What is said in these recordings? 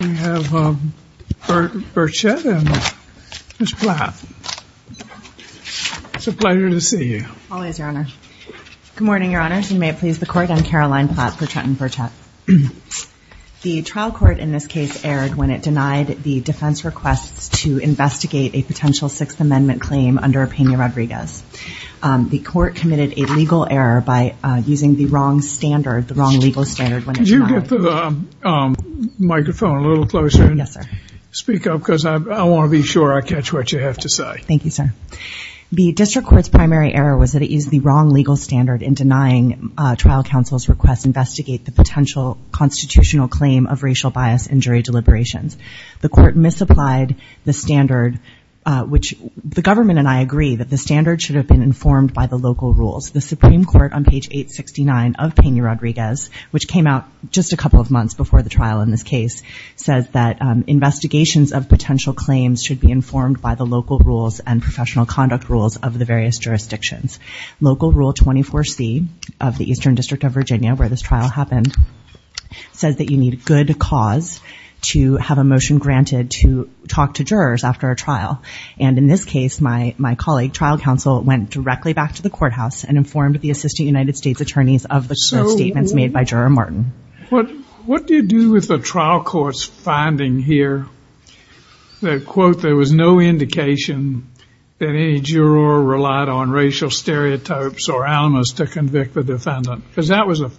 We have Birchette and Ms. Platt. It's a pleasure to see you. Always, Your Honor. Good morning, Your Honors. And may it please the Court, I'm Caroline Platt, Birchette and Birchette. The trial court in this case erred when it denied the defense requests to investigate a potential Sixth Amendment claim under a Pena-Rodriguez. The court committed a legal error by using the wrong standard, the wrong legal standard. Could you get the microphone a little closer and speak up because I want to be sure I catch what you have to say. Thank you, sir. The district court's primary error was that it used the wrong legal standard in denying trial counsel's request to investigate the potential constitutional claim of racial bias in jury deliberations. The court misapplied the standard, which the government and I agree that the standard should have been informed by the local rules. The just a couple of months before the trial in this case, says that investigations of potential claims should be informed by the local rules and professional conduct rules of the various jurisdictions. Local Rule 24C of the Eastern District of Virginia, where this trial happened, says that you need a good cause to have a motion granted to talk to jurors after a trial. And in this case, my colleague, trial counsel, went directly back to the courthouse and informed the Assistant United States Attorneys of the statements made by Juror Martin. What, what do you do with the trial court's finding here? That quote, there was no indication that any juror relied on racial stereotypes or almas to convict the defendant because that was a,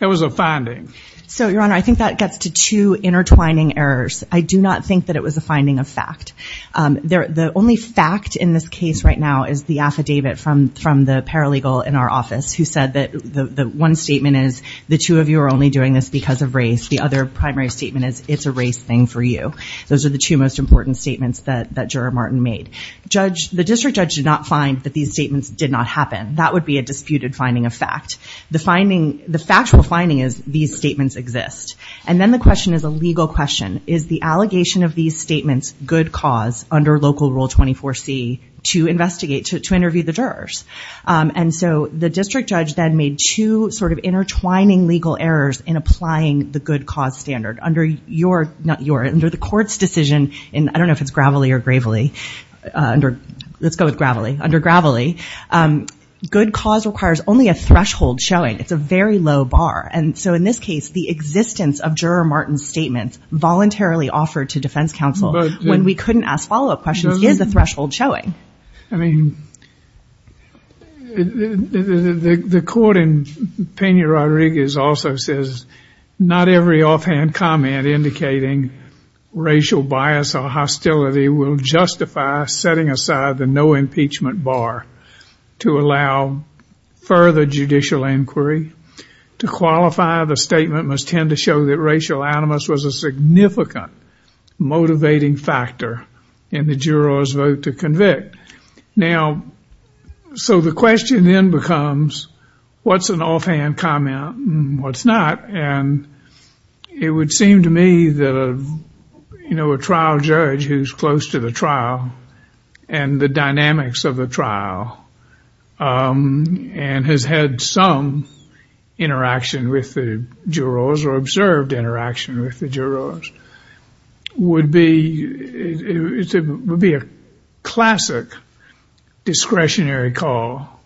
that was a finding. So Your Honor, I think that gets to two intertwining errors. I do not think that it was a finding of fact. There, the only fact in this case right now is the affidavit from from the paralegal in our office who said that the one statement is the two of you are only doing this because of race. The other primary statement is it's a race thing for you. Those are the two most important statements that that Juror Martin made. Judge, the district judge did not find that these statements did not happen. That would be a disputed finding of fact. The finding, the factual finding is these statements exist. And then the question is a legal question. Is the allegation of these statements good cause under Local Rule 24C to investigate, to interview the jurors? And so the district judge then made two sort of intertwining legal errors in applying the good cause standard under your not your under the court's decision. And I don't know if it's gravely or gravely under, let's go with gravely under gravely. Good cause requires only a threshold showing it's a very low bar. And so in this case, the existence of Juror Martin's statements voluntarily offered to defense counsel, when we couldn't ask follow up questions, is the threshold showing? I mean, the court in Pena-Rodriguez also says, not every offhand comment indicating racial bias or hostility will justify setting aside the no impeachment bar to allow further judicial inquiry. To qualify the statement must tend to show that in the juror's vote to convict. Now, so the question then becomes, what's an offhand comment? What's not? And it would seem to me that, you know, a trial judge who's close to the trial, and the dynamics of the trial, and has had some interaction with the jurors or observed interaction with the jurors, would be a classic discretionary call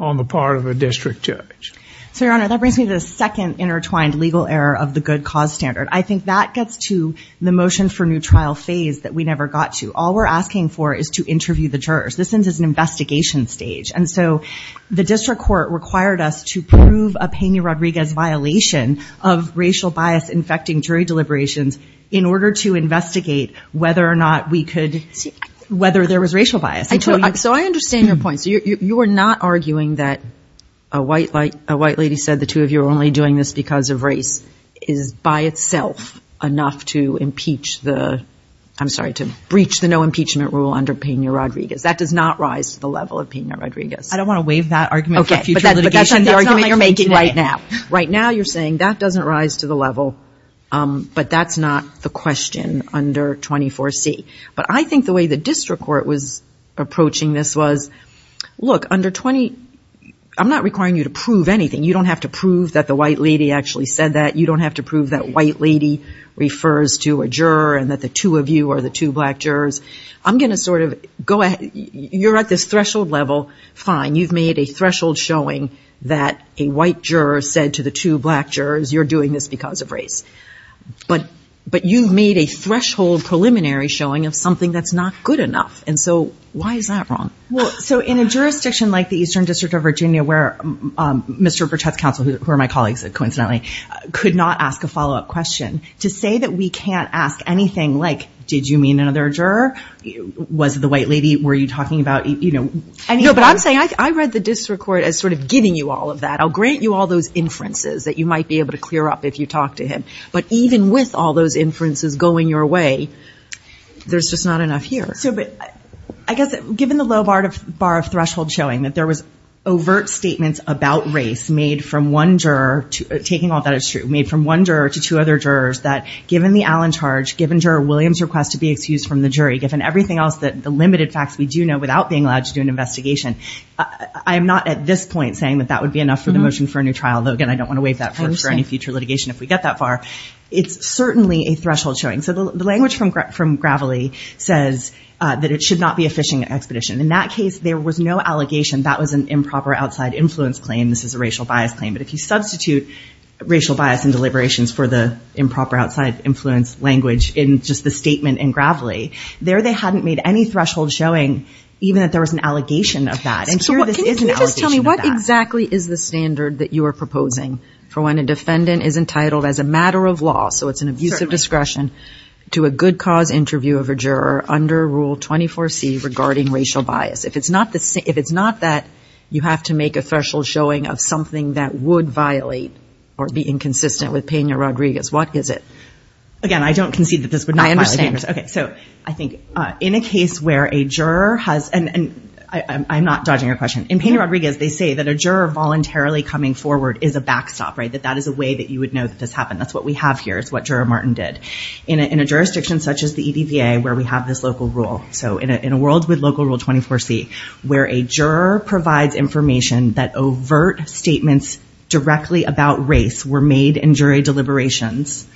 on the part of a district judge. So Your Honor, that brings me to the second intertwined legal error of the good cause standard. I think that gets to the motion for new trial phase that we never got to. All we're asking for is to interview the jurors. This is an investigation stage. And so the district court required us to prove a Pena- Rodriguez violation of racial bias infecting jury deliberations, in order to investigate whether or not we could see whether there was racial bias. So I understand your point. So you're not arguing that a white light, a white lady said the two of you are only doing this because of race is by itself enough to impeach the, I'm sorry, to breach the no impeachment rule under Pena-Rodriguez. That does not rise to the level of Pena-Rodriguez. I don't want to waive that argument for future litigation. That's not the argument you're making right now. Right now, you're saying that doesn't rise to the level. But that's not the under 24C. But I think the way the district court was approaching this was, look, under 20, I'm not requiring you to prove anything. You don't have to prove that the white lady actually said that. You don't have to prove that white lady refers to a juror and that the two of you are the two black jurors. I'm going to sort of go ahead. You're at this threshold level. Fine. You've made a threshold showing that a white juror said to the two black jurors, you're doing this because of race. But, but you've made a threshold preliminary showing of something that's not good enough. And so why is that wrong? Well, so in a jurisdiction like the Eastern District of Virginia, where Mr. Burchette's counsel, who are my colleagues, coincidentally, could not ask a follow up question to say that we can't ask anything like, did you mean another juror? Was the white lady were you talking about, you know, I know, but I'm saying I read the district court as sort of giving you all of that. I'll grant you all those inferences that you might be able to clear up if you talk to him. But even with all those inferences going your way, there's just not enough here. So, but I guess given the low bar of threshold showing that there was overt statements about race made from one juror, taking all that is true, made from one juror to two other jurors that given the Allen charge, given juror Williams request to be excused from the jury, given everything else that the limited facts we do know without being allowed to do an investigation, I'm not at this point saying that that would be enough for the motion for a new trial, though, again, I don't want to waive that for any future litigation. If we get that far, it's certainly a threshold showing. So the language from from gravelly says that it should not be a fishing expedition. In that case, there was no allegation that was an improper outside influence claim. This is a racial bias claim. But if you substitute racial bias and deliberations for the improper outside influence language in just the statement in gravelly there, they hadn't made any threshold showing even that there was an allegation of that. And so what can you just tell me what exactly is the standard that you are proposing for when a defendant is entitled as a matter of law? So it's an abusive discretion to a good cause interview of a juror under Rule 24 C regarding racial bias. If it's not the if it's not that you have to make a threshold showing of something that would violate or be inconsistent with Pena Rodriguez, what is it? Again, I don't concede that this would not understand. Okay, so I think in a case where a juror has and I'm not dodging your question in Pena Rodriguez, they say that a juror voluntarily coming forward is a backstop, right? That that is a way that you would know that this happened. That's what we have here is what Juror Martin did in a jurisdiction such as the EDVA where we have this local rule. So in a world with local Rule 24 C, where a juror provides information that overt statements directly about race were made in jury deliberations,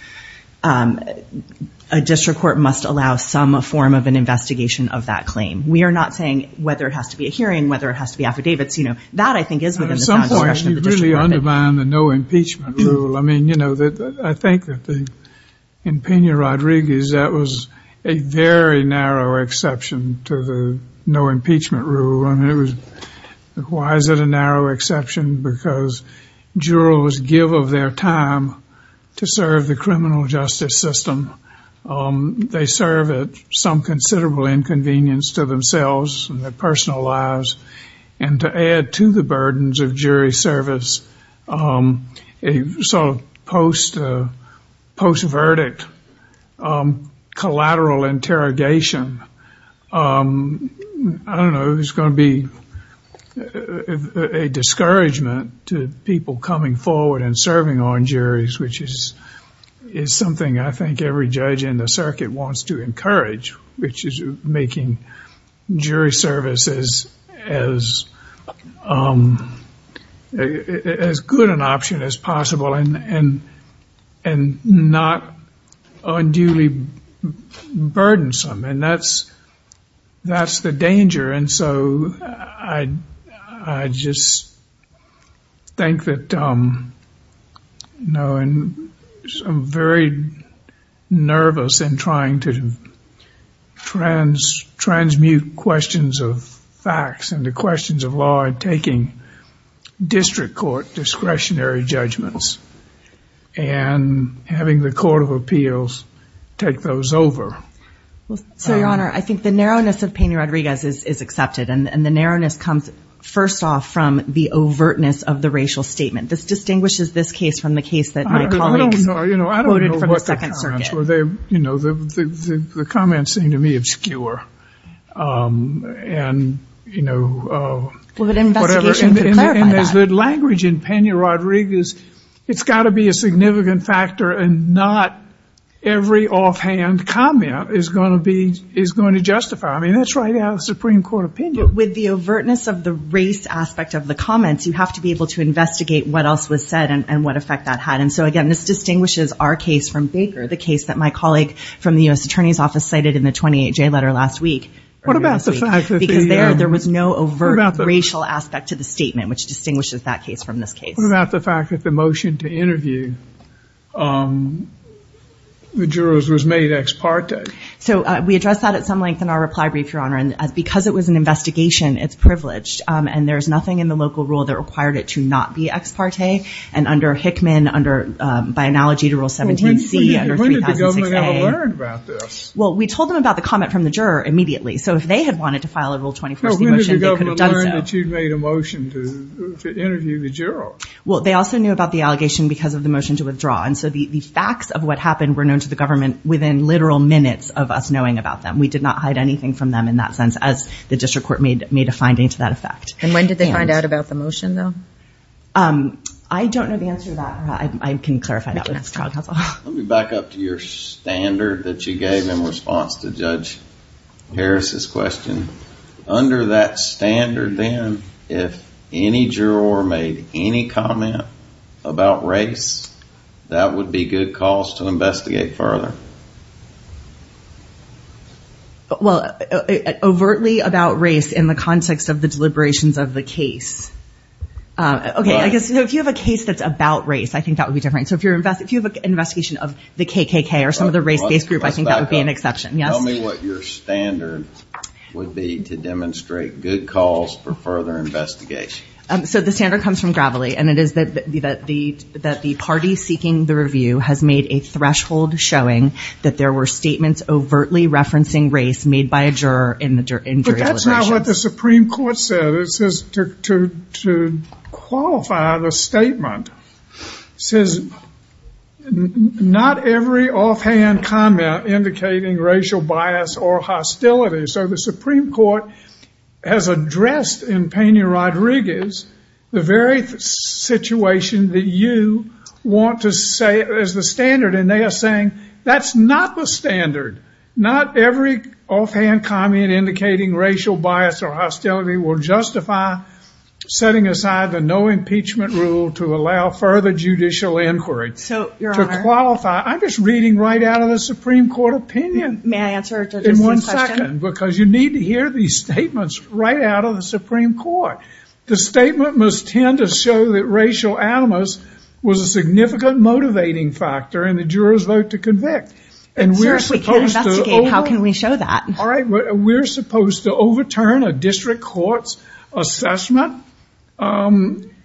a district court must allow some form of an investigation of that claim. We are not saying whether it has to be a hearing, whether it has to be affidavits, you know, that I think is really undermined the no impeachment rule. I mean, you know, that I think that in Pena Rodriguez, that was a very narrow exception to the no impeachment rule. And it was, why is it a narrow exception? Because jurors give of their time to serve the criminal justice system. They serve at some considerable inconvenience to themselves and their members of jury service. So post-verdict collateral interrogation, I don't know, it's going to be a discouragement to people coming forward and serving on juries, which is something I think every judge in the circuit wants to as good an option as possible and not unduly burdensome. And that's, that's the danger. And so I just think that, you know, and I'm very nervous and trying to transmute questions of facts and the questions of law and taking district court discretionary judgments and having the Court of Appeals take those over. Well, so Your Honor, I think the narrowness of Pena Rodriguez is accepted. And the narrowness comes first off from the overtness of the racial statement. This distinguishes this case from the case that my colleagues voted for the Second Circuit. They, you know, the comments seem to me obscure. And, you know, there's good language in Pena Rodriguez. It's got to be a significant factor and not every offhand comment is going to be, is going to justify. I mean, that's right out of the Supreme Court opinion. With the overtness of the race aspect of the comments, you have to be able to investigate what else was said and what effect that had. And so again, this distinguishes our case from the case that my colleague from the U.S. Attorney's Office cited in the 28-J letter last week. What about the fact that Because there was no overt racial aspect to the statement, which distinguishes that case from this case. What about the fact that the motion to interview the jurors was made ex parte? So we addressed that at some length in our reply brief, Your Honor. And because it was an investigation, it's privileged. And there's nothing in the local rule that required it to not be And under Hickman, under, by analogy to Rule 17-C, under 3006-A. When did the government ever learn about this? Well, we told them about the comment from the juror immediately. So if they had wanted to file a Rule 21-C motion, they could have done so. When did the government learn that you'd made a motion to interview the juror? Well, they also knew about the allegation because of the motion to withdraw. And so the facts of what happened were known to the government within literal minutes of us knowing about them. We did not hide anything from them in that sense, as the district court made a finding to that effect. And when did they find out about the motion, though? I don't know the answer to that. I can clarify that with the child counsel. Let me back up to your standard that you gave in response to Judge Harris's question. Under that standard, then, if any juror made any comment about race, that would be good cause to investigate further. Well, overtly about race in the context of the deliberations of the case. Okay, I guess if you have a case that's about race, I think that would be different. So if you have an investigation of the KKK or some of the race-based group, I think that would be an exception. Tell me what your standard would be to demonstrate good cause for further investigation. So the standard comes from Gravely, and it is that the party seeking the review has made a threshold showing that there were statements overtly referencing race made by a juror in the jury deliberations. That's not what the Supreme Court said. It says to qualify the statement, it says, not every offhand comment indicating racial bias or hostility. So the Supreme Court has addressed in Peña-Rodriguez the very situation that you want to say is the standard, and they are saying that's not the standard. Not every offhand comment indicating racial bias or hostility will justify setting aside the no impeachment rule to allow further judicial inquiry. So, Your Honor. To qualify, I'm just reading right out of the Supreme Court opinion. May I answer just one question? In one second, because you need to hear these statements right out of the Supreme Court. The statement must tend to show that racial animus was a significant motivating factor in the juror's vote to convict. And we're supposed to overturn a district court's assessment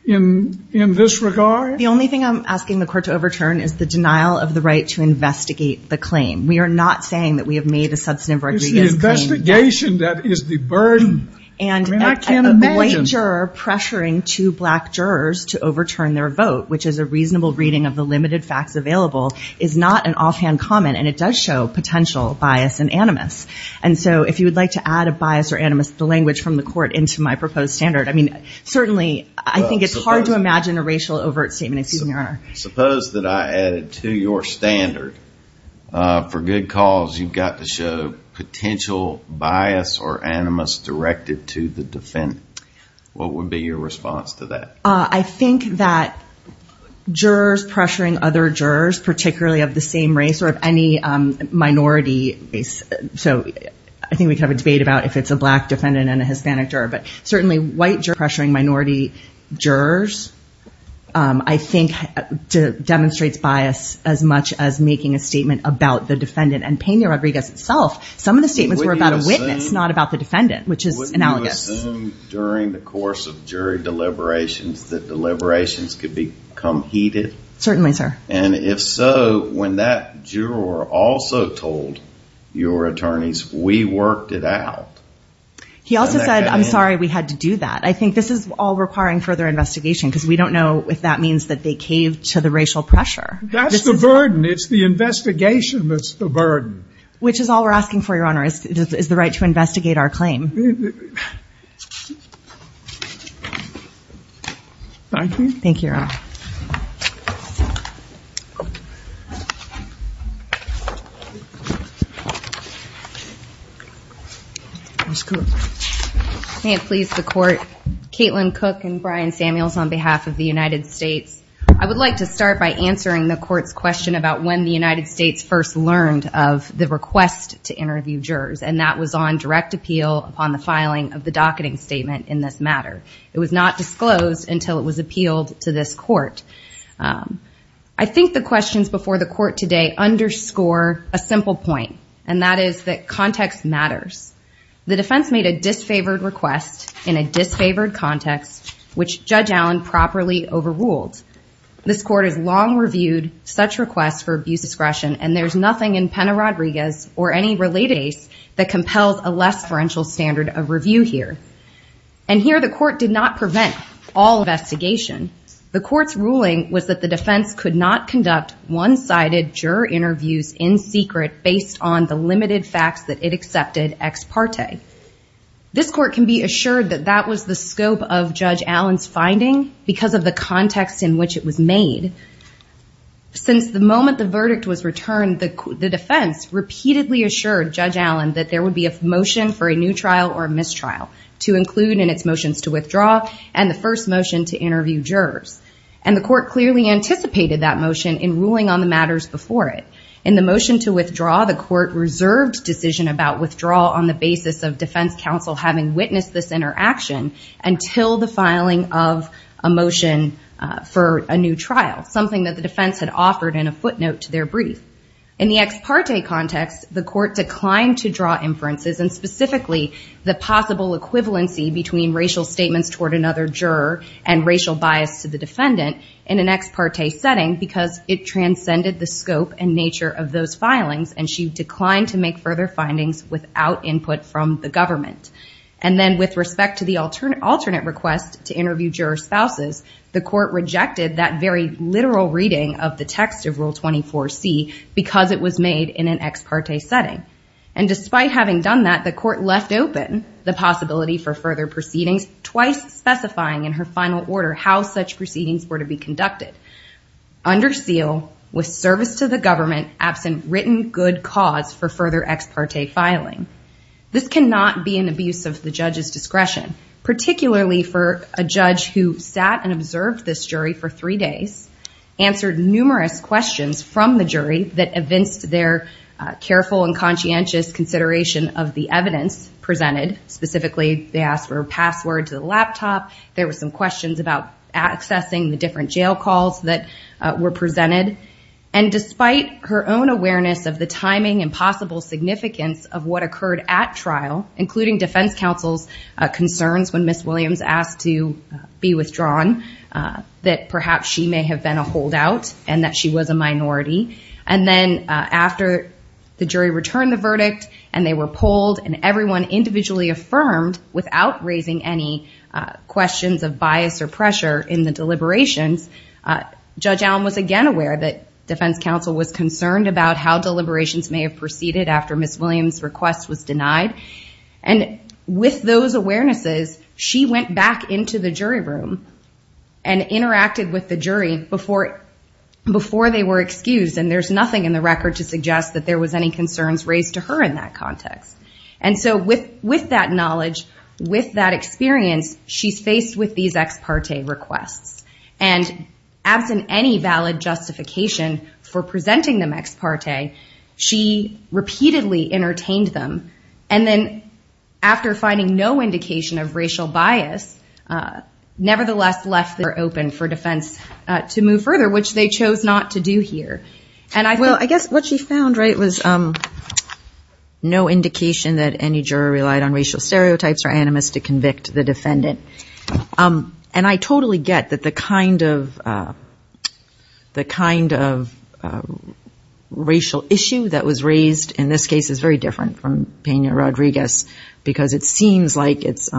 in this regard? The only thing I'm asking the court to overturn is the denial of the right to investigate the claim. We are not saying that we have made a substantive Rodriguez claim. It's the investigation that is the burden. And a white juror pressuring two black jurors to overturn their vote, which is a reasonable reading of the limited offhand comment, and it does show potential bias and animus. And so, if you would like to add a bias or animus, the language from the court into my proposed standard. I mean, certainly I think it's hard to imagine a racial overt statement, excuse me, Your Honor. Suppose that I added to your standard, for good cause, you've got to show potential bias or animus directed to the defendant. What would be your response to that? I think that jurors pressuring other jurors, particularly of the same race or of any minority race. So I think we could have a debate about if it's a black defendant and a Hispanic juror, but certainly white jurors pressuring minority jurors, I think, demonstrates bias as much as making a statement about the defendant and Peña Rodriguez itself. Some of the statements were about a witness, not about the defendant, which is analogous. Wouldn't you assume during the course of jury deliberations that deliberations could become heated? Certainly, sir. And if so, when that juror also told your attorneys, we worked it out. He also said, I'm sorry we had to do that. I think this is all requiring further investigation because we don't know if that means that they caved to the racial pressure. That's the burden. It's the investigation that's the burden. Which is all we're asking for, Your Honor, is the right to investigate our claim. Thank you. Thank you, Your Honor. Ms. Cook. May it please the Court. Caitlin Cook and Brian Samuels on behalf of the United States. I would like to start by answering the Court's question about when the United States first learned of the request to interview jurors, and that was on direct appeal upon the filing of the docketing statement in this matter. It was not disclosed until it was appealed to this Court. I think the questions before the Court today underscore a simple point, and that is that context matters. The defense made a disfavored request in a disfavored context, which Judge Allen properly overruled. This Court has long reviewed such requests for abuse discretion, and there's nothing in Pena-Rodriguez or any related case that compels a less-ferential standard of review here. And here the Court did not prevent all investigation. The Court's ruling was that the defense could not conduct one-sided juror interviews in secret based on the limited facts that it accepted ex parte. This Court can be assured that that was the scope of Judge Allen's finding because of the context in which it was made. Since the moment the verdict was returned, the defense repeatedly assured Judge Allen that there would be a motion for a new trial or a mistrial to include in its motions to jurors, and the Court clearly anticipated that motion in ruling on the matters before it. In the motion to withdraw, the Court reserved decision about withdrawal on the basis of defense counsel having witnessed this interaction until the filing of a motion for a new trial, something that the defense had offered in a footnote to their brief. In the ex parte context, the Court declined to draw inferences, and specifically the possible equivalency between racial bias to the defendant in an ex parte setting because it transcended the scope and nature of those filings, and she declined to make further findings without input from the government. And then with respect to the alternate request to interview juror spouses, the Court rejected that very literal reading of the text of Rule 24C because it was made in an ex parte setting. And despite having done that, the Court left open the possibility for further proceedings, twice specifying in her final order how such proceedings were to be conducted. Under seal, with service to the government, absent written good cause for further ex parte filing. This cannot be an abuse of the judge's discretion, particularly for a judge who sat and observed this jury for three days, answered numerous questions from the jury that evinced their careful and conscientious consideration of the evidence presented, specifically they asked for a password to the questions about accessing the different jail calls that were presented. And despite her own awareness of the timing and possible significance of what occurred at trial, including Defense Counsel's concerns when Ms. Williams asked to be withdrawn, that perhaps she may have been a holdout and that she was a minority. And then after the jury returned the verdict and they were polled and everyone individually affirmed without raising any questions of bias or pressure in the deliberations, Judge Allen was again aware that Defense Counsel was concerned about how deliberations may have proceeded after Ms. Williams' request was denied. And with those awarenesses, she went back into the jury room and interacted with the jury before they were excused. And there's nothing in the record to suggest that there was any concerns raised to her in that context. And so with that knowledge, with that experience, she's faced with these ex parte requests and absent any valid justification for presenting them ex parte, she repeatedly entertained them. And then after finding no indication of racial bias, nevertheless left the door open for defense to move further, which they chose not to do here. And I guess what she found, right, was no indication that convict the defendant. And I totally get that the kind of racial issue that was raised in this case is very different from Pena-Rodriguez because it seems like it's,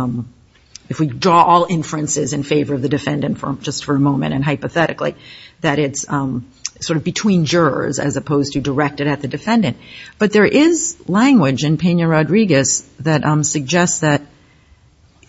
if we draw all inferences in favor of the defendant just for a moment and hypothetically, that it's sort of between jurors as opposed to directed at the defendant. But there is language in Pena-Rodriguez that suggests that,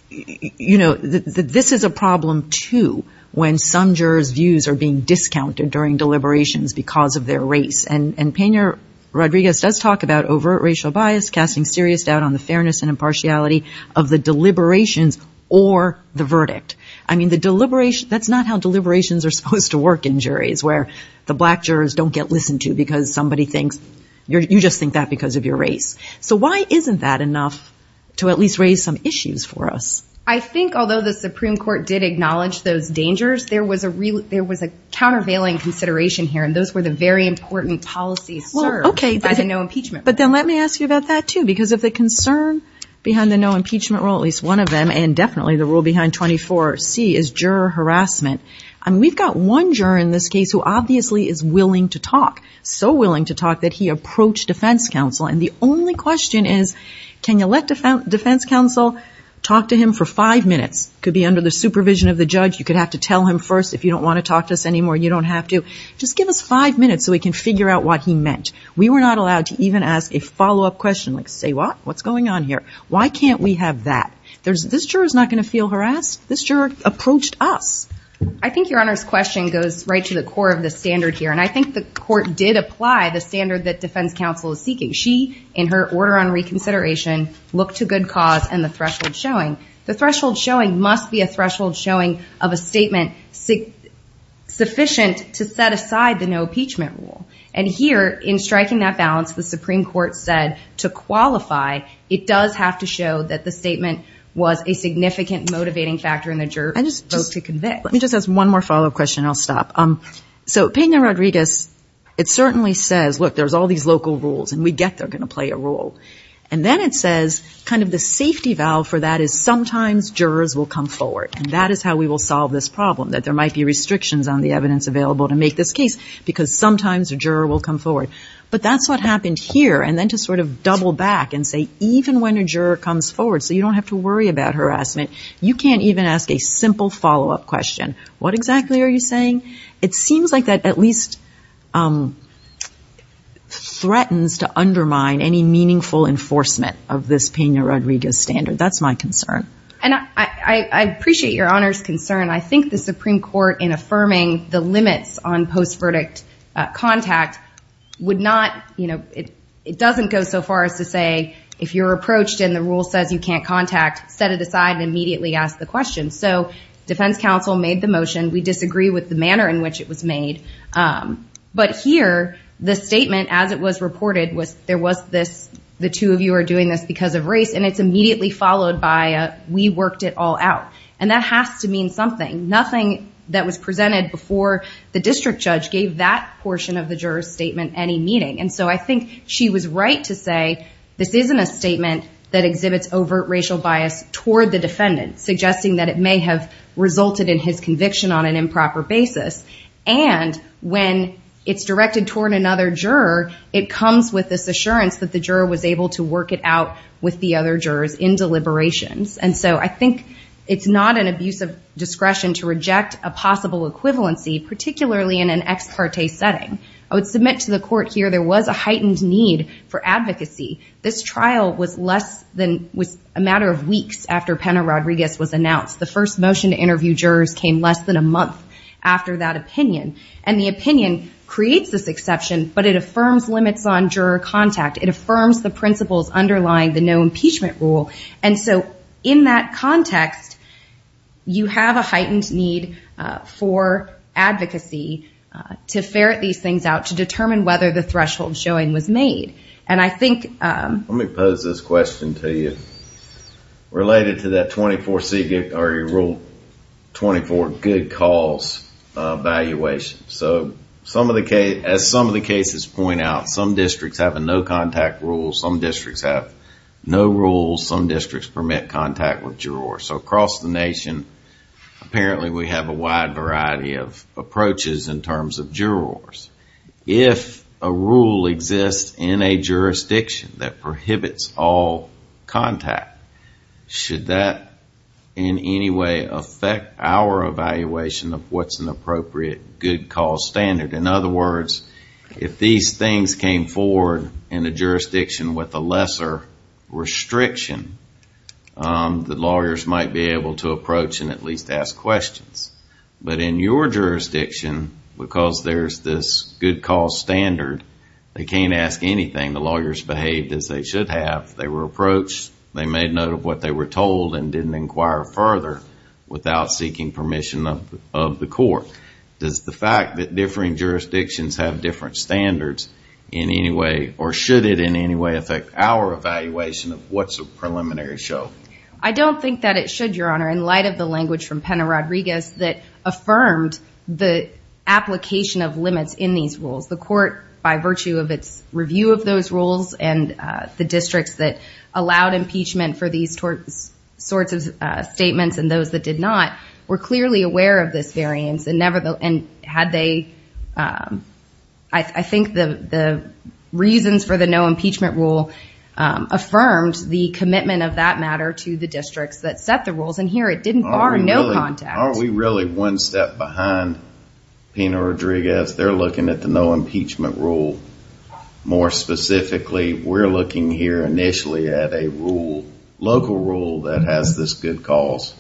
you know, this is a problem too, when some jurors views are being discounted during deliberations because of their race. And Pena-Rodriguez does talk about overt racial bias, casting serious doubt on the fairness and impartiality of the deliberations or the verdict. I mean, the deliberation, that's not how deliberations are supposed to work in juries where the black jurors don't get listened to because somebody thinks you just think that because of your race. So why isn't that enough to at least raise some issues for us? I think although the Supreme Court did acknowledge those dangers, there was a really, there was a countervailing consideration here. And those were the very important policies served by the no impeachment. But then let me ask you about that too, because of the concern behind the no impeachment rule, at least one of them, and definitely the rule behind 24C is juror harassment. I mean, we've got one juror in this case who obviously is willing to talk, so willing to talk that he approached defense counsel. And the only question is, can you let defense counsel talk to him for five minutes? Could be under the supervision of the judge. You could have to tell him first, if you don't want to talk to us anymore, you don't have to. Just give us five minutes so we can figure out what he meant. We were not allowed to even ask a follow-up question like, say what, what's going on here? Why can't we have that? There's, this juror is not going to feel harassed. This juror approached us. I think your Honor's question goes right to the core of the standard here. And I think the court did apply the standard that defense counsel is seeking. She, in her order on reconsideration, looked to good cause and the threshold showing. The threshold showing must be a threshold showing of a statement sufficient to set aside the no impeachment rule. And here in striking that balance, the Supreme Court said to qualify, it does have to show that the statement was a significant motivating factor in the juror vote to convict. Let me just ask one more follow-up question and I'll stop. So Pena Rodriguez, it certainly says, look, there's all these local rules and we get they're going to play a role. And then it says kind of the safety valve for that is sometimes jurors will come forward and that is how we will solve this problem, that there might be restrictions on the evidence available to make this case because sometimes a juror will come forward. But that's what happened here. And then to sort of double back and say, even when a juror comes forward, so you don't have to worry about harassment, you can't even ask a simple follow-up question. What exactly are you saying? It seems like that at least threatens to undermine any meaningful enforcement of this Pena Rodriguez standard. That's my concern. And I appreciate your Honor's concern. I think the Supreme Court in affirming the limits on post verdict contact would not, you know, it doesn't go so far as to say, if you're approached and the rule says you can't contact, set it aside and immediately ask the question. So defense counsel made the motion. We disagree with the manner in which it was made. But here, the statement as it was reported was, there was this, the two of you are doing this because of race and it's immediately followed by, we worked it all out. And that has to mean something. Nothing that was presented before the district judge gave that portion of the juror's statement any meaning. And so I think she was right to say, this isn't a statement that exhibits overt racial bias toward the defendant, suggesting that it may have resulted in his conviction on an improper basis. And when it's directed toward another juror, it comes with this assurance that the juror was able to work it out with the other jurors in deliberations. And so I think it's not an abuse of discretion to reject a possible equivalency, particularly in an ex parte setting. I would submit to the court here, there was a heightened need for advocacy. This trial was less than, was a matter of weeks after Pena Rodriguez was announced. The first motion to interview jurors came less than a month after that opinion. And the opinion creates this exception, but it affirms limits on juror contact. It affirms the principles underlying the no impeachment rule. And so in that context, you have a heightened need for advocacy to ferret these things out, to determine whether the threshold showing was made. And I think, um, let me pose this question to you related to that 24C rule, 24 good cause, uh, valuation. So some of the cases, as some of the cases point out, some districts have a no contact rule. Some districts have no rules. Some districts permit contact with jurors. So across the nation, apparently we have a wide variety of approaches in terms of jurors. If a rule exists in a jurisdiction that prohibits all contact, should that in any way affect our evaluation of what's an appropriate good cause standard? In other words, if these things came forward in a jurisdiction with a lesser restriction, um, the lawyers might be able to approach and at least ask questions. But in your jurisdiction, because there's this good cause standard, they can't ask anything. The lawyers behaved as they should have. They were approached. They made note of what they were told and didn't inquire further without seeking permission of the court. Does the fact that differing jurisdictions have different standards in any way, or should it in any way affect our evaluation of what's a preliminary show? I don't think that it should, Your Honor, in light of the language from Pena Rodriguez that affirmed the application of limits in these rules. The court, by virtue of its review of those rules and, uh, the districts that allowed impeachment for these sorts of statements and those that did not, were clearly aware of this variance and had they, um, I think the reasons for the no impeachment rule, um, affirmed the commitment of that matter to the districts that set the rules. And here it didn't bar no contact. Are we really one step behind Pena Rodriguez? They're looking at the no impeachment rule. More specifically, we're looking here initially at a rule, local rule that has this good cause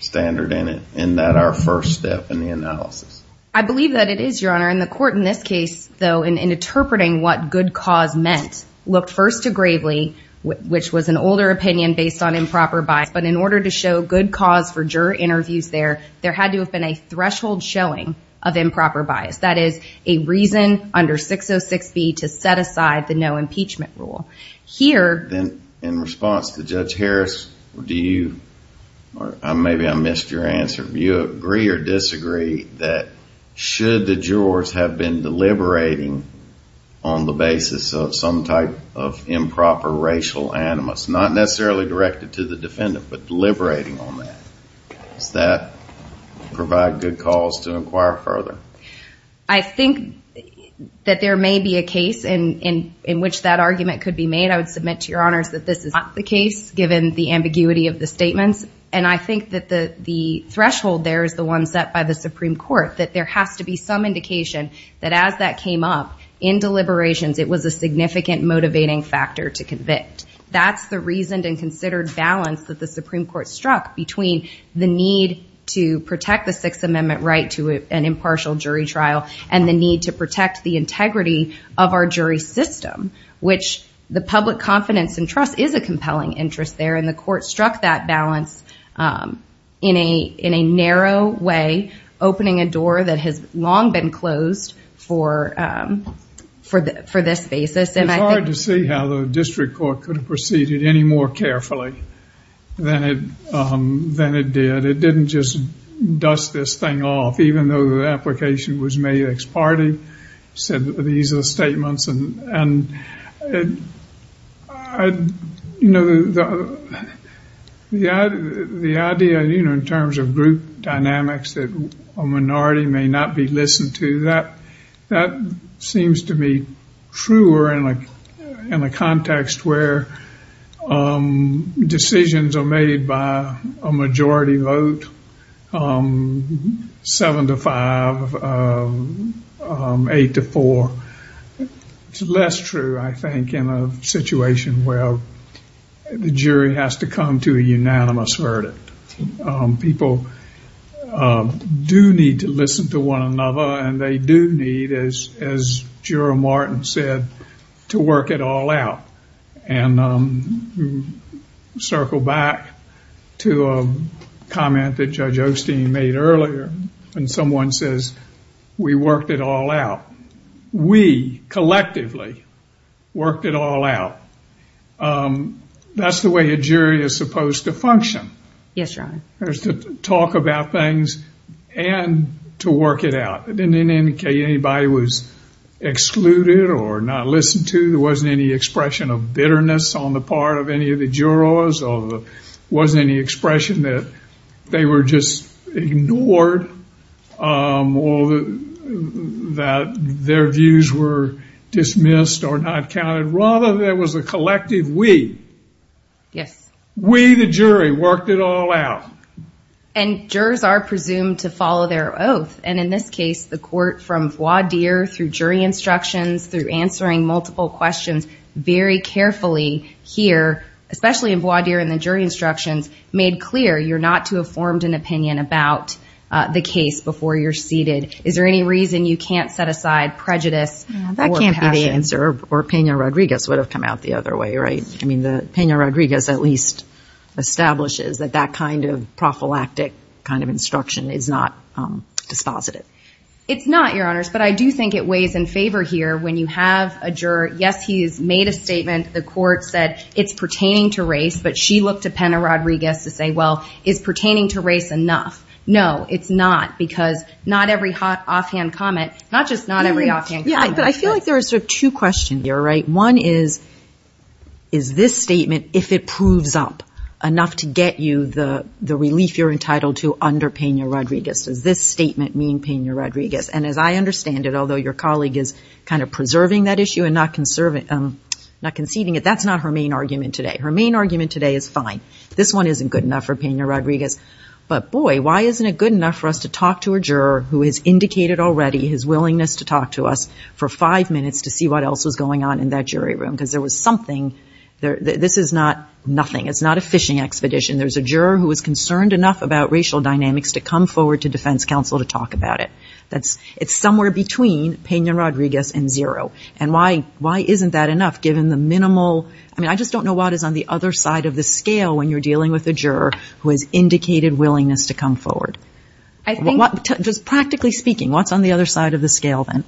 standard in it, and that our first step in the analysis. I believe that it is, Your Honor, in the court in this case, though, in, in interpreting what good cause meant, looked first to Gravely, which was an older opinion based on improper bias, but in order to show good cause for juror interviews there, there had to have been a threshold showing of improper bias. That is a reason under 606B to set aside the no impeachment rule. Here. Then in response to Judge Harris, do you, or maybe I missed your answer. Do you agree or disagree that should the jurors have been deliberating on the basis of some type of improper racial animus, not necessarily directed to the defendant, but deliberating on that. Does that provide good cause to inquire further? I think that there may be a case in, in, in which that argument could be made. I would submit to your honors that this is not the case given the ambiguity of the statements. And I think that the, the threshold there is the one set by the Supreme court, that there has to be some indication that as that came up in deliberations, it was a significant motivating factor to convict. That's the reason and considered balance that the Supreme court struck between the need to protect the sixth amendment right to an impartial jury trial and the need to protect the integrity of our jury system, which the public confidence and trust is a compelling interest there. And the court struck that balance in a, in a narrow way, opening a door that has long been closed for, for the, for this basis. It's hard to see how the district court could have proceeded any more carefully than it, than it did. It didn't just dust this thing off, even though the application was made ex parte, said these are the statements. And, and I, you know, the, the idea, you know, in terms of group dynamics that a minority may not be listened to that, that seems to me truer in a, in a context where decisions are made by a majority vote, seven to five, eight to four. It's less true, I think, in a situation where the jury has to come to a unanimous verdict. People do need to listen to one another and they do need, as, as Juror Martin said, to work it all out. And circle back to a comment that Judge Osteen made earlier. When someone says, we worked it all out, we collectively worked it all out. That's the way a jury is supposed to function. Yes, Your Honor. There's to talk about things and to work it out. It didn't indicate anybody was excluded or not listened to. There wasn't any expression of bitterness on the part of any of the jurors, or there wasn't any expression that they were just ignored, or that their views were dismissed or not counted. Rather, there was a collective we. Yes. We, the jury, worked it all out. And jurors are presumed to follow their oath. And in this case, the court, from voir dire, through jury instructions, through answering multiple questions, very carefully here, especially in voir dire and the jury instructions, made clear you're not to have formed an opinion about the case before you're seated. Is there any reason you can't set aside prejudice or passion? That can't be the answer, or Peña Rodriguez would have come out the other way, right? I mean, the Peña Rodriguez at least establishes that that prophylactic kind of instruction is not dispositive. It's not, Your Honors, but I do think it weighs in favor here when you have a juror, yes, he's made a statement, the court said it's pertaining to race, but she looked to Peña Rodriguez to say, well, is pertaining to race enough? No, it's not. Because not every hot offhand comment, not just not every offhand comment. Yeah, but I feel like there are sort of two questions here, right? One is, is this statement, if it proves up enough to get you the relief you're entitled to under Peña Rodriguez? Does this statement mean Peña Rodriguez? And as I understand it, although your colleague is kind of preserving that issue and not conceding it, that's not her main argument today. Her main argument today is, fine, this one isn't good enough for Peña Rodriguez, but boy, why isn't it good enough for us to talk to a juror who has indicated already his willingness to talk to us for five minutes to see what else was going on in that jury room? Because there was something, this is not nothing. It's not a fishing expedition. There's a juror who is concerned enough about racial dynamics to come forward to defense counsel to talk about it. That's, it's somewhere between Peña Rodriguez and zero. And why, why isn't that enough given the minimal, I mean, I just don't know what is on the other side of the scale when you're dealing with a juror who has indicated willingness to come forward. I think. Just practically speaking, what's on the other side of the scale then?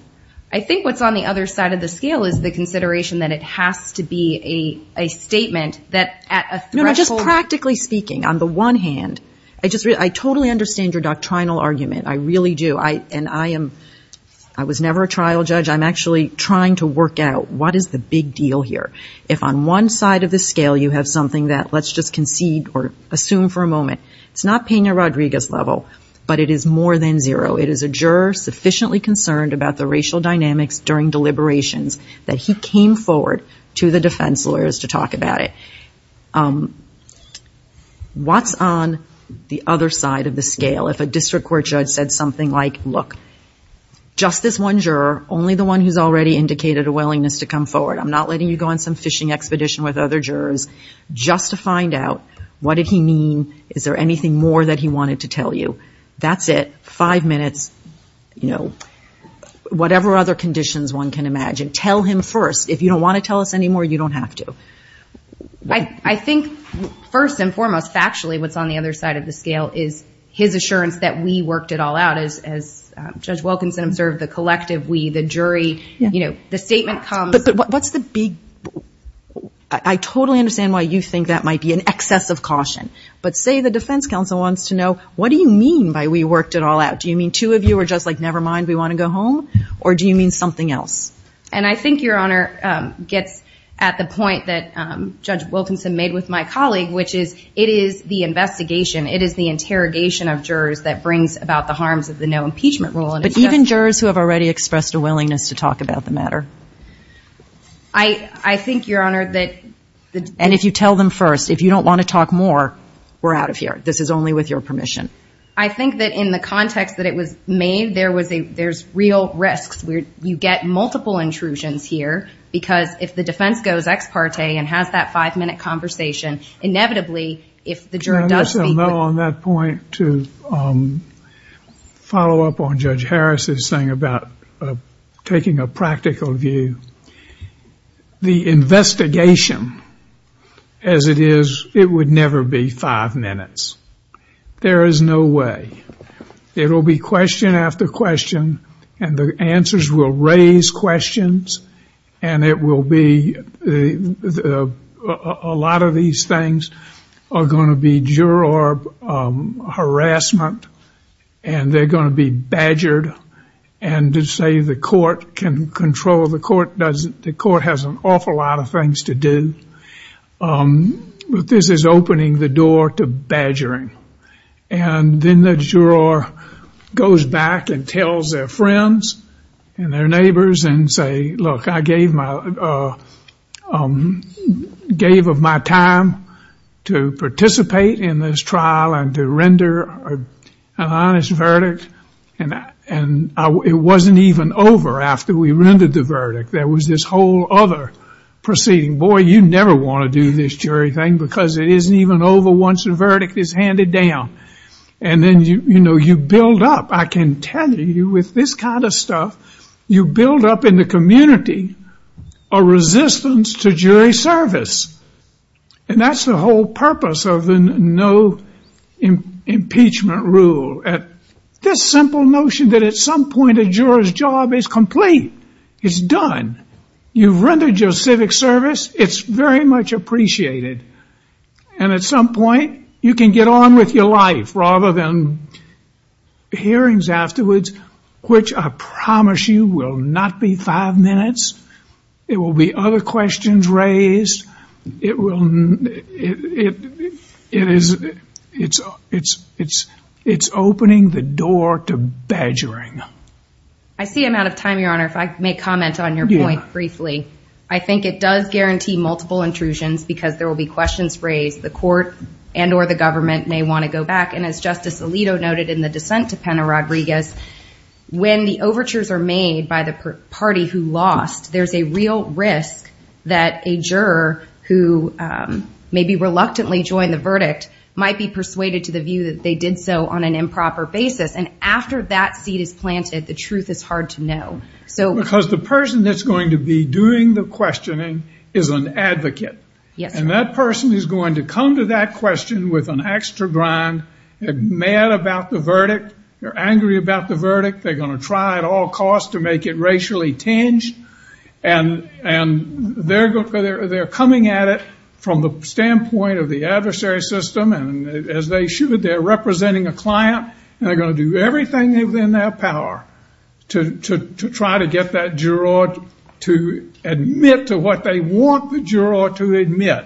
I think what's on the other side of the scale is the consideration that it has to be a statement that at a threshold. No, no, just practically speaking, on the one hand, I just, I totally understand your doctrinal argument. I really do. I, and I am, I was never a trial judge. I'm actually trying to work out what is the big deal here? If on one side of the scale, you have something that let's just concede or assume for a moment, it's not Peña Rodriguez level, but it is more than zero. It is a juror sufficiently concerned about the racial dynamics during deliberations that he came forward to the defense lawyers to talk about it. What's on the other side of the scale? If a district court judge said something like, look, just this one juror, only the one who's already indicated a willingness to come forward. I'm not letting you go on some fishing expedition with other jurors just to find out what did he mean? Is there anything more that he wanted to tell you? That's it. Five minutes, you know, whatever other conditions one can imagine, tell him first. If you don't want to tell us anymore, you don't have to. I think first and foremost, factually, what's on the other side of the scale is his assurance that we worked it all out as Judge Wilkinson observed the collective, we, the jury, you know, the statement comes. But what's the big, I totally understand why you think that might be an excess of caution, but say the defense council wants to know, what do you mean by we worked it all out? Do you mean two of you were just like, nevermind, we want to go home or do you mean something else? And I think Your Honor gets at the point that Judge Wilkinson made with my colleague, which is, it is the investigation. It is the interrogation of jurors that brings about the harms of the no impeachment rule. But even jurors who have already expressed a willingness to talk about the matter? I, I think Your Honor that. And if you tell them first, if you don't want to talk more, we're out of here. This is only with your permission. I think that in the context that it was made, there was a, there's real risks. We're, you get multiple intrusions here because if the defense goes ex parte and has that five minute conversation, inevitably, if the juror does speak with- I guess I'll go on that point to follow up on Judge Harris's thing about taking a practical view. The investigation as it is, it would never be five minutes. There is no way. It will be question after question and the answers will raise questions and it will be, a lot of these things are going to be juror harassment and they're going to be badgered. And to say the court can control the court doesn't, the court has an awful lot of things to do. But this is opening the door to badgering. And then the juror goes back and tells their friends and their neighbors and say, look, I gave of my time to participate in this trial and to render an honest verdict and it wasn't even over after we rendered the verdict. There was this whole other proceeding. Boy, you never want to do this jury thing because it isn't even over once the verdict is handed down. And then you build up, I can tell you with this kind of stuff, you build up in the community a resistance to jury service and that's the whole purpose of the no impeachment rule, this simple notion that at some point a juror's job is complete, it's done. You've rendered your civic service, it's very much appreciated, and at some point you can get on with your life rather than hearings afterwards, which I promise you will not be five minutes. It will be other questions raised. It will, it is, it's opening the door to badgering. I see I'm out of time, Your Honor, if I may comment on your point briefly. I think it does guarantee multiple intrusions because there will be questions raised. The court and or the government may want to go back. And as Justice Alito noted in the dissent to Pena-Rodriguez, when the overtures are made by the party who lost, there's a real risk that a juror who maybe reluctantly joined the verdict might be persuaded to the view that they did so on an improper basis. And after that seed is planted, the truth is hard to know. So because the person that's going to be doing the questioning is an advocate. Yes. And that person is going to come to that question with an extra grind, mad about the verdict. They're angry about the verdict. They're going to try at all costs to make it racially tinged and they're coming at it from the standpoint of the adversary system. And as they should, they're representing a client and they're going to do everything within their power to try to get that juror to admit to what they want the juror to admit.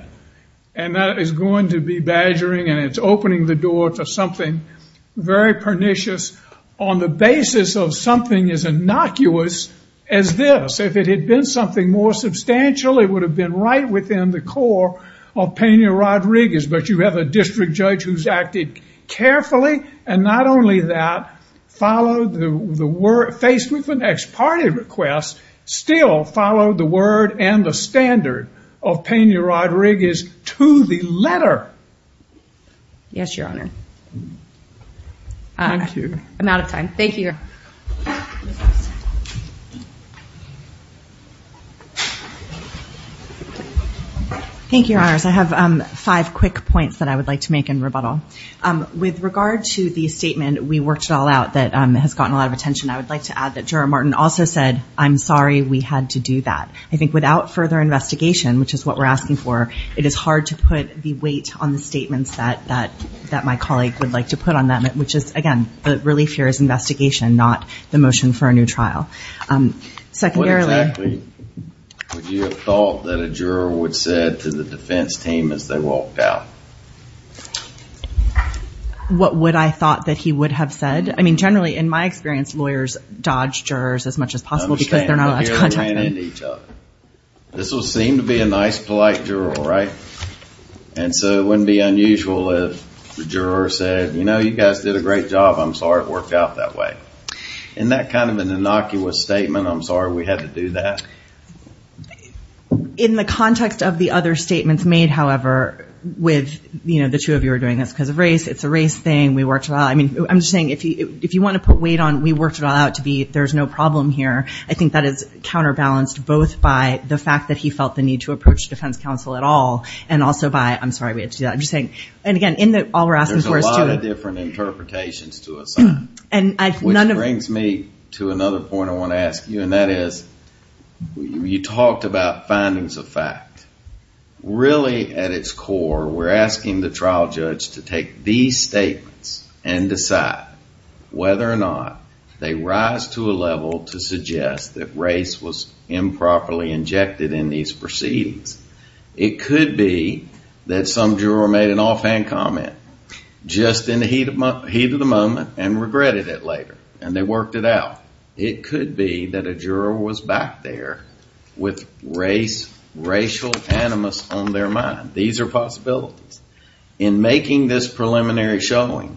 And that is going to be badgering and it's opening the door to something very pernicious on the basis of something as innocuous as this. If it had been something more substantial, it would have been right within the core of Pena-Rodriguez. But you have a district judge who's acted carefully and not only that, faced with an ex parte request, still followed the word and the standard of Pena-Rodriguez to the letter. Yes, Your Honor. Thank you. I'm out of time. Thank you. Thank you, Your Honors. I have five quick points that I would like to make in rebuttal. With regard to the statement, we worked it all out, that has gotten a lot of attention. I would like to add that Juror Martin also said, I'm sorry we had to do that. I think without further investigation, which is what we're asking for, it is hard to put the weight on the statements that my colleague would like to put on them, which is, again, the relief here is investigation, not the motion for a new trial. What exactly would you have thought that a juror would say to the defense team as they walked out? What would I thought that he would have said? I mean, generally, in my experience, lawyers dodge jurors as much as possible because they're not allowed to contact them. This will seem to be a nice, polite juror, right? And so it wouldn't be unusual if the juror said, you know, you guys did a great job. I'm sorry it worked out that way. Isn't that kind of an innocuous statement? I'm sorry we had to do that. In the context of the other statements made, however, with, you know, it's a race, it's a race thing, we worked it out. I mean, I'm just saying, if you want to put weight on, we worked it all out to be, there's no problem here. I think that is counterbalanced both by the fact that he felt the need to approach defense counsel at all, and also by, I'm sorry we had to do that. I'm just saying, and again, in the, all we're asking for is to... There's a lot of different interpretations to assign, which brings me to another point I want to ask you, and that is, you talked about findings of fact, really at its core, we're asking the trial judge to take these statements and decide whether or not they rise to a level to suggest that race was improperly injected in these proceedings. It could be that some juror made an offhand comment, just in the heat of the moment, and regretted it later, and they worked it out. It could be that a juror was back there with race, racial animus on their mind. These are possibilities. In making this preliminary showing,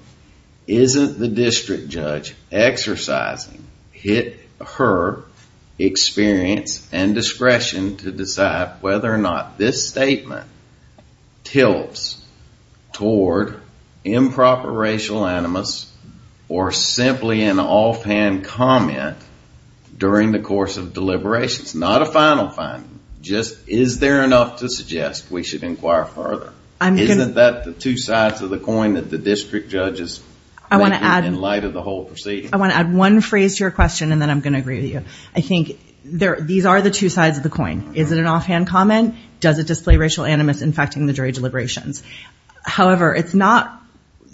isn't the district judge exercising her experience and discretion to decide whether or not this statement tilts toward improper racial animus, or simply an offhand comment during the course of deliberations, not a final finding, just is there enough to suggest we should inquire further? Isn't that the two sides of the coin that the district judge is making in light of the whole proceeding? I want to add one phrase to your question, and then I'm going to agree with you. I think these are the two sides of the coin. Is it an offhand comment? Does it display racial animus infecting the jury deliberations? However, it's not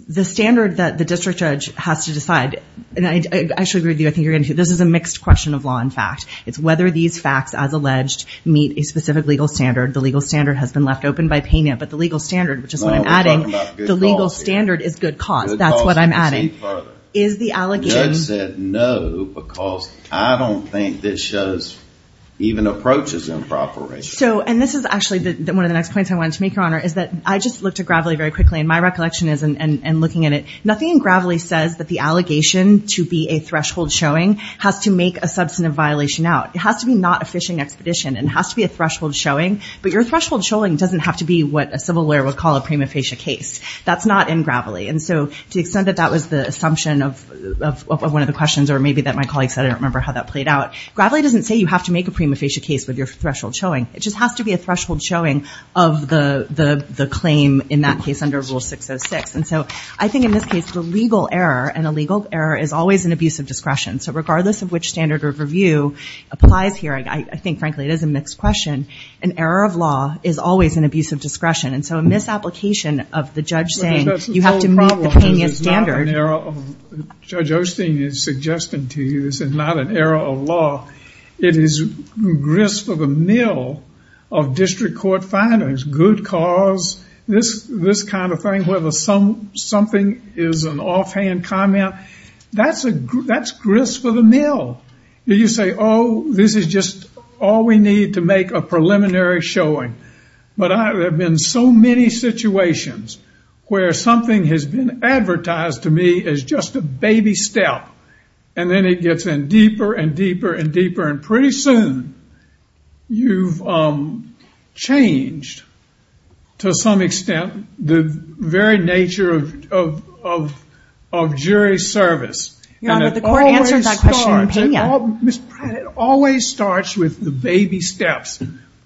the standard that the district judge has to decide. And I actually agree with you. I think you're going to... This is a mixed question of law and fact. It's whether these facts, as alleged, meet a specific legal standard. The legal standard has been left open by Pena, but the legal standard, which is what I'm adding, the legal standard is good cause. That's what I'm adding. Is the allegation... Judge said no, because I don't think this shows even approaches to improper racial... So, and this is actually one of the next points I wanted to make, Your Honor, is that I just looked at Gravely very quickly, and my recollection is, and looking at it, nothing in Gravely says that the allegation to be a threshold showing has to make a substantive violation out. It has to be not a fishing expedition. It has to be a threshold showing, but your threshold showing doesn't have to be what a civil lawyer would call a prima facie case. That's not in Gravely. And so, to the extent that that was the assumption of one of the questions, or maybe that my colleagues said I don't remember how that played out, Gravely doesn't say you have to make a prima facie case with your threshold showing. It just has to be a threshold showing of the claim in that case under Rule 606. And so, I think in this case, the legal error, an illegal error, is always an abuse of discretion. So, regardless of which standard of review applies here, I think, frankly, it is a mixed question, an error of law is always an abuse of discretion. And so, a misapplication of the judge saying you have to meet the payment standard. That's the whole problem, because it's not an error of, Judge Osteen is suggesting to you, this is not an error of law. It is grist for the mill of district court findings. Good cause, this kind of thing, whether something is an offhand comment, that's grist for the mill. You say, oh, this is just all we need to make a preliminary showing. But there have been so many situations where something has been advertised to me as just a baby step, and then it gets in deeper and deeper and deeper. And pretty soon, you've changed, to some extent, the very nature of jury service. Your Honor, the court answered that question in Pena. Ms. Pratt, it always starts with the baby steps,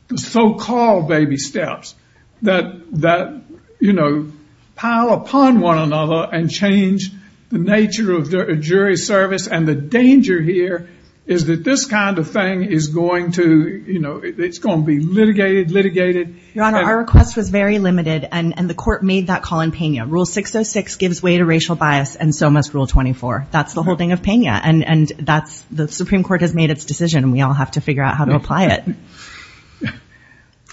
the so-called baby steps, that pile upon one another and change the nature of jury service. And the danger here is that this kind of thing is going to be litigated, litigated. Your Honor, our request was very limited, and the court made that call in Pena. Rule 606 gives way to racial bias, and so must Rule 24. That's the holding of Pena, and the Supreme Court has made its decision, and we all have to figure out how to apply it.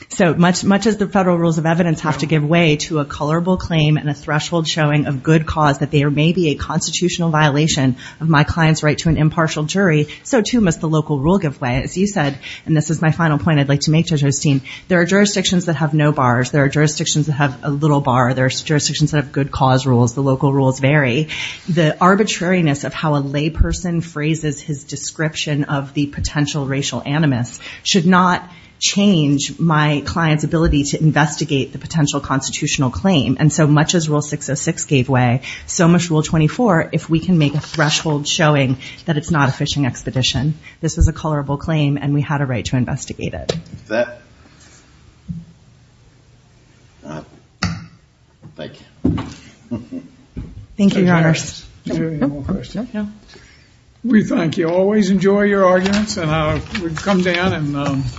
So much as the federal rules of evidence have to give way to a colorable claim and a threshold showing of good cause that there may be a constitutional violation of my client's right to an impartial jury, so too must the local rule give way. As you said, and this is my final point I'd like to make to Jostein, there are jurisdictions that have no bars. There are jurisdictions that have a little bar. There are jurisdictions that have good cause rules. The local rules vary. The arbitrariness of how a layperson phrases his description of the potential racial animus should not change my client's ability to investigate the potential constitutional claim. And so much as Rule 606 gave way, so much Rule 24, if we can make a threshold showing that it's not a fishing expedition. This was a colorable claim, and we had a right to investigate it. Thank you. Thank you, Your Honor. Is there any more questions? No. We thank you. Always enjoy your arguments, and we've come down and-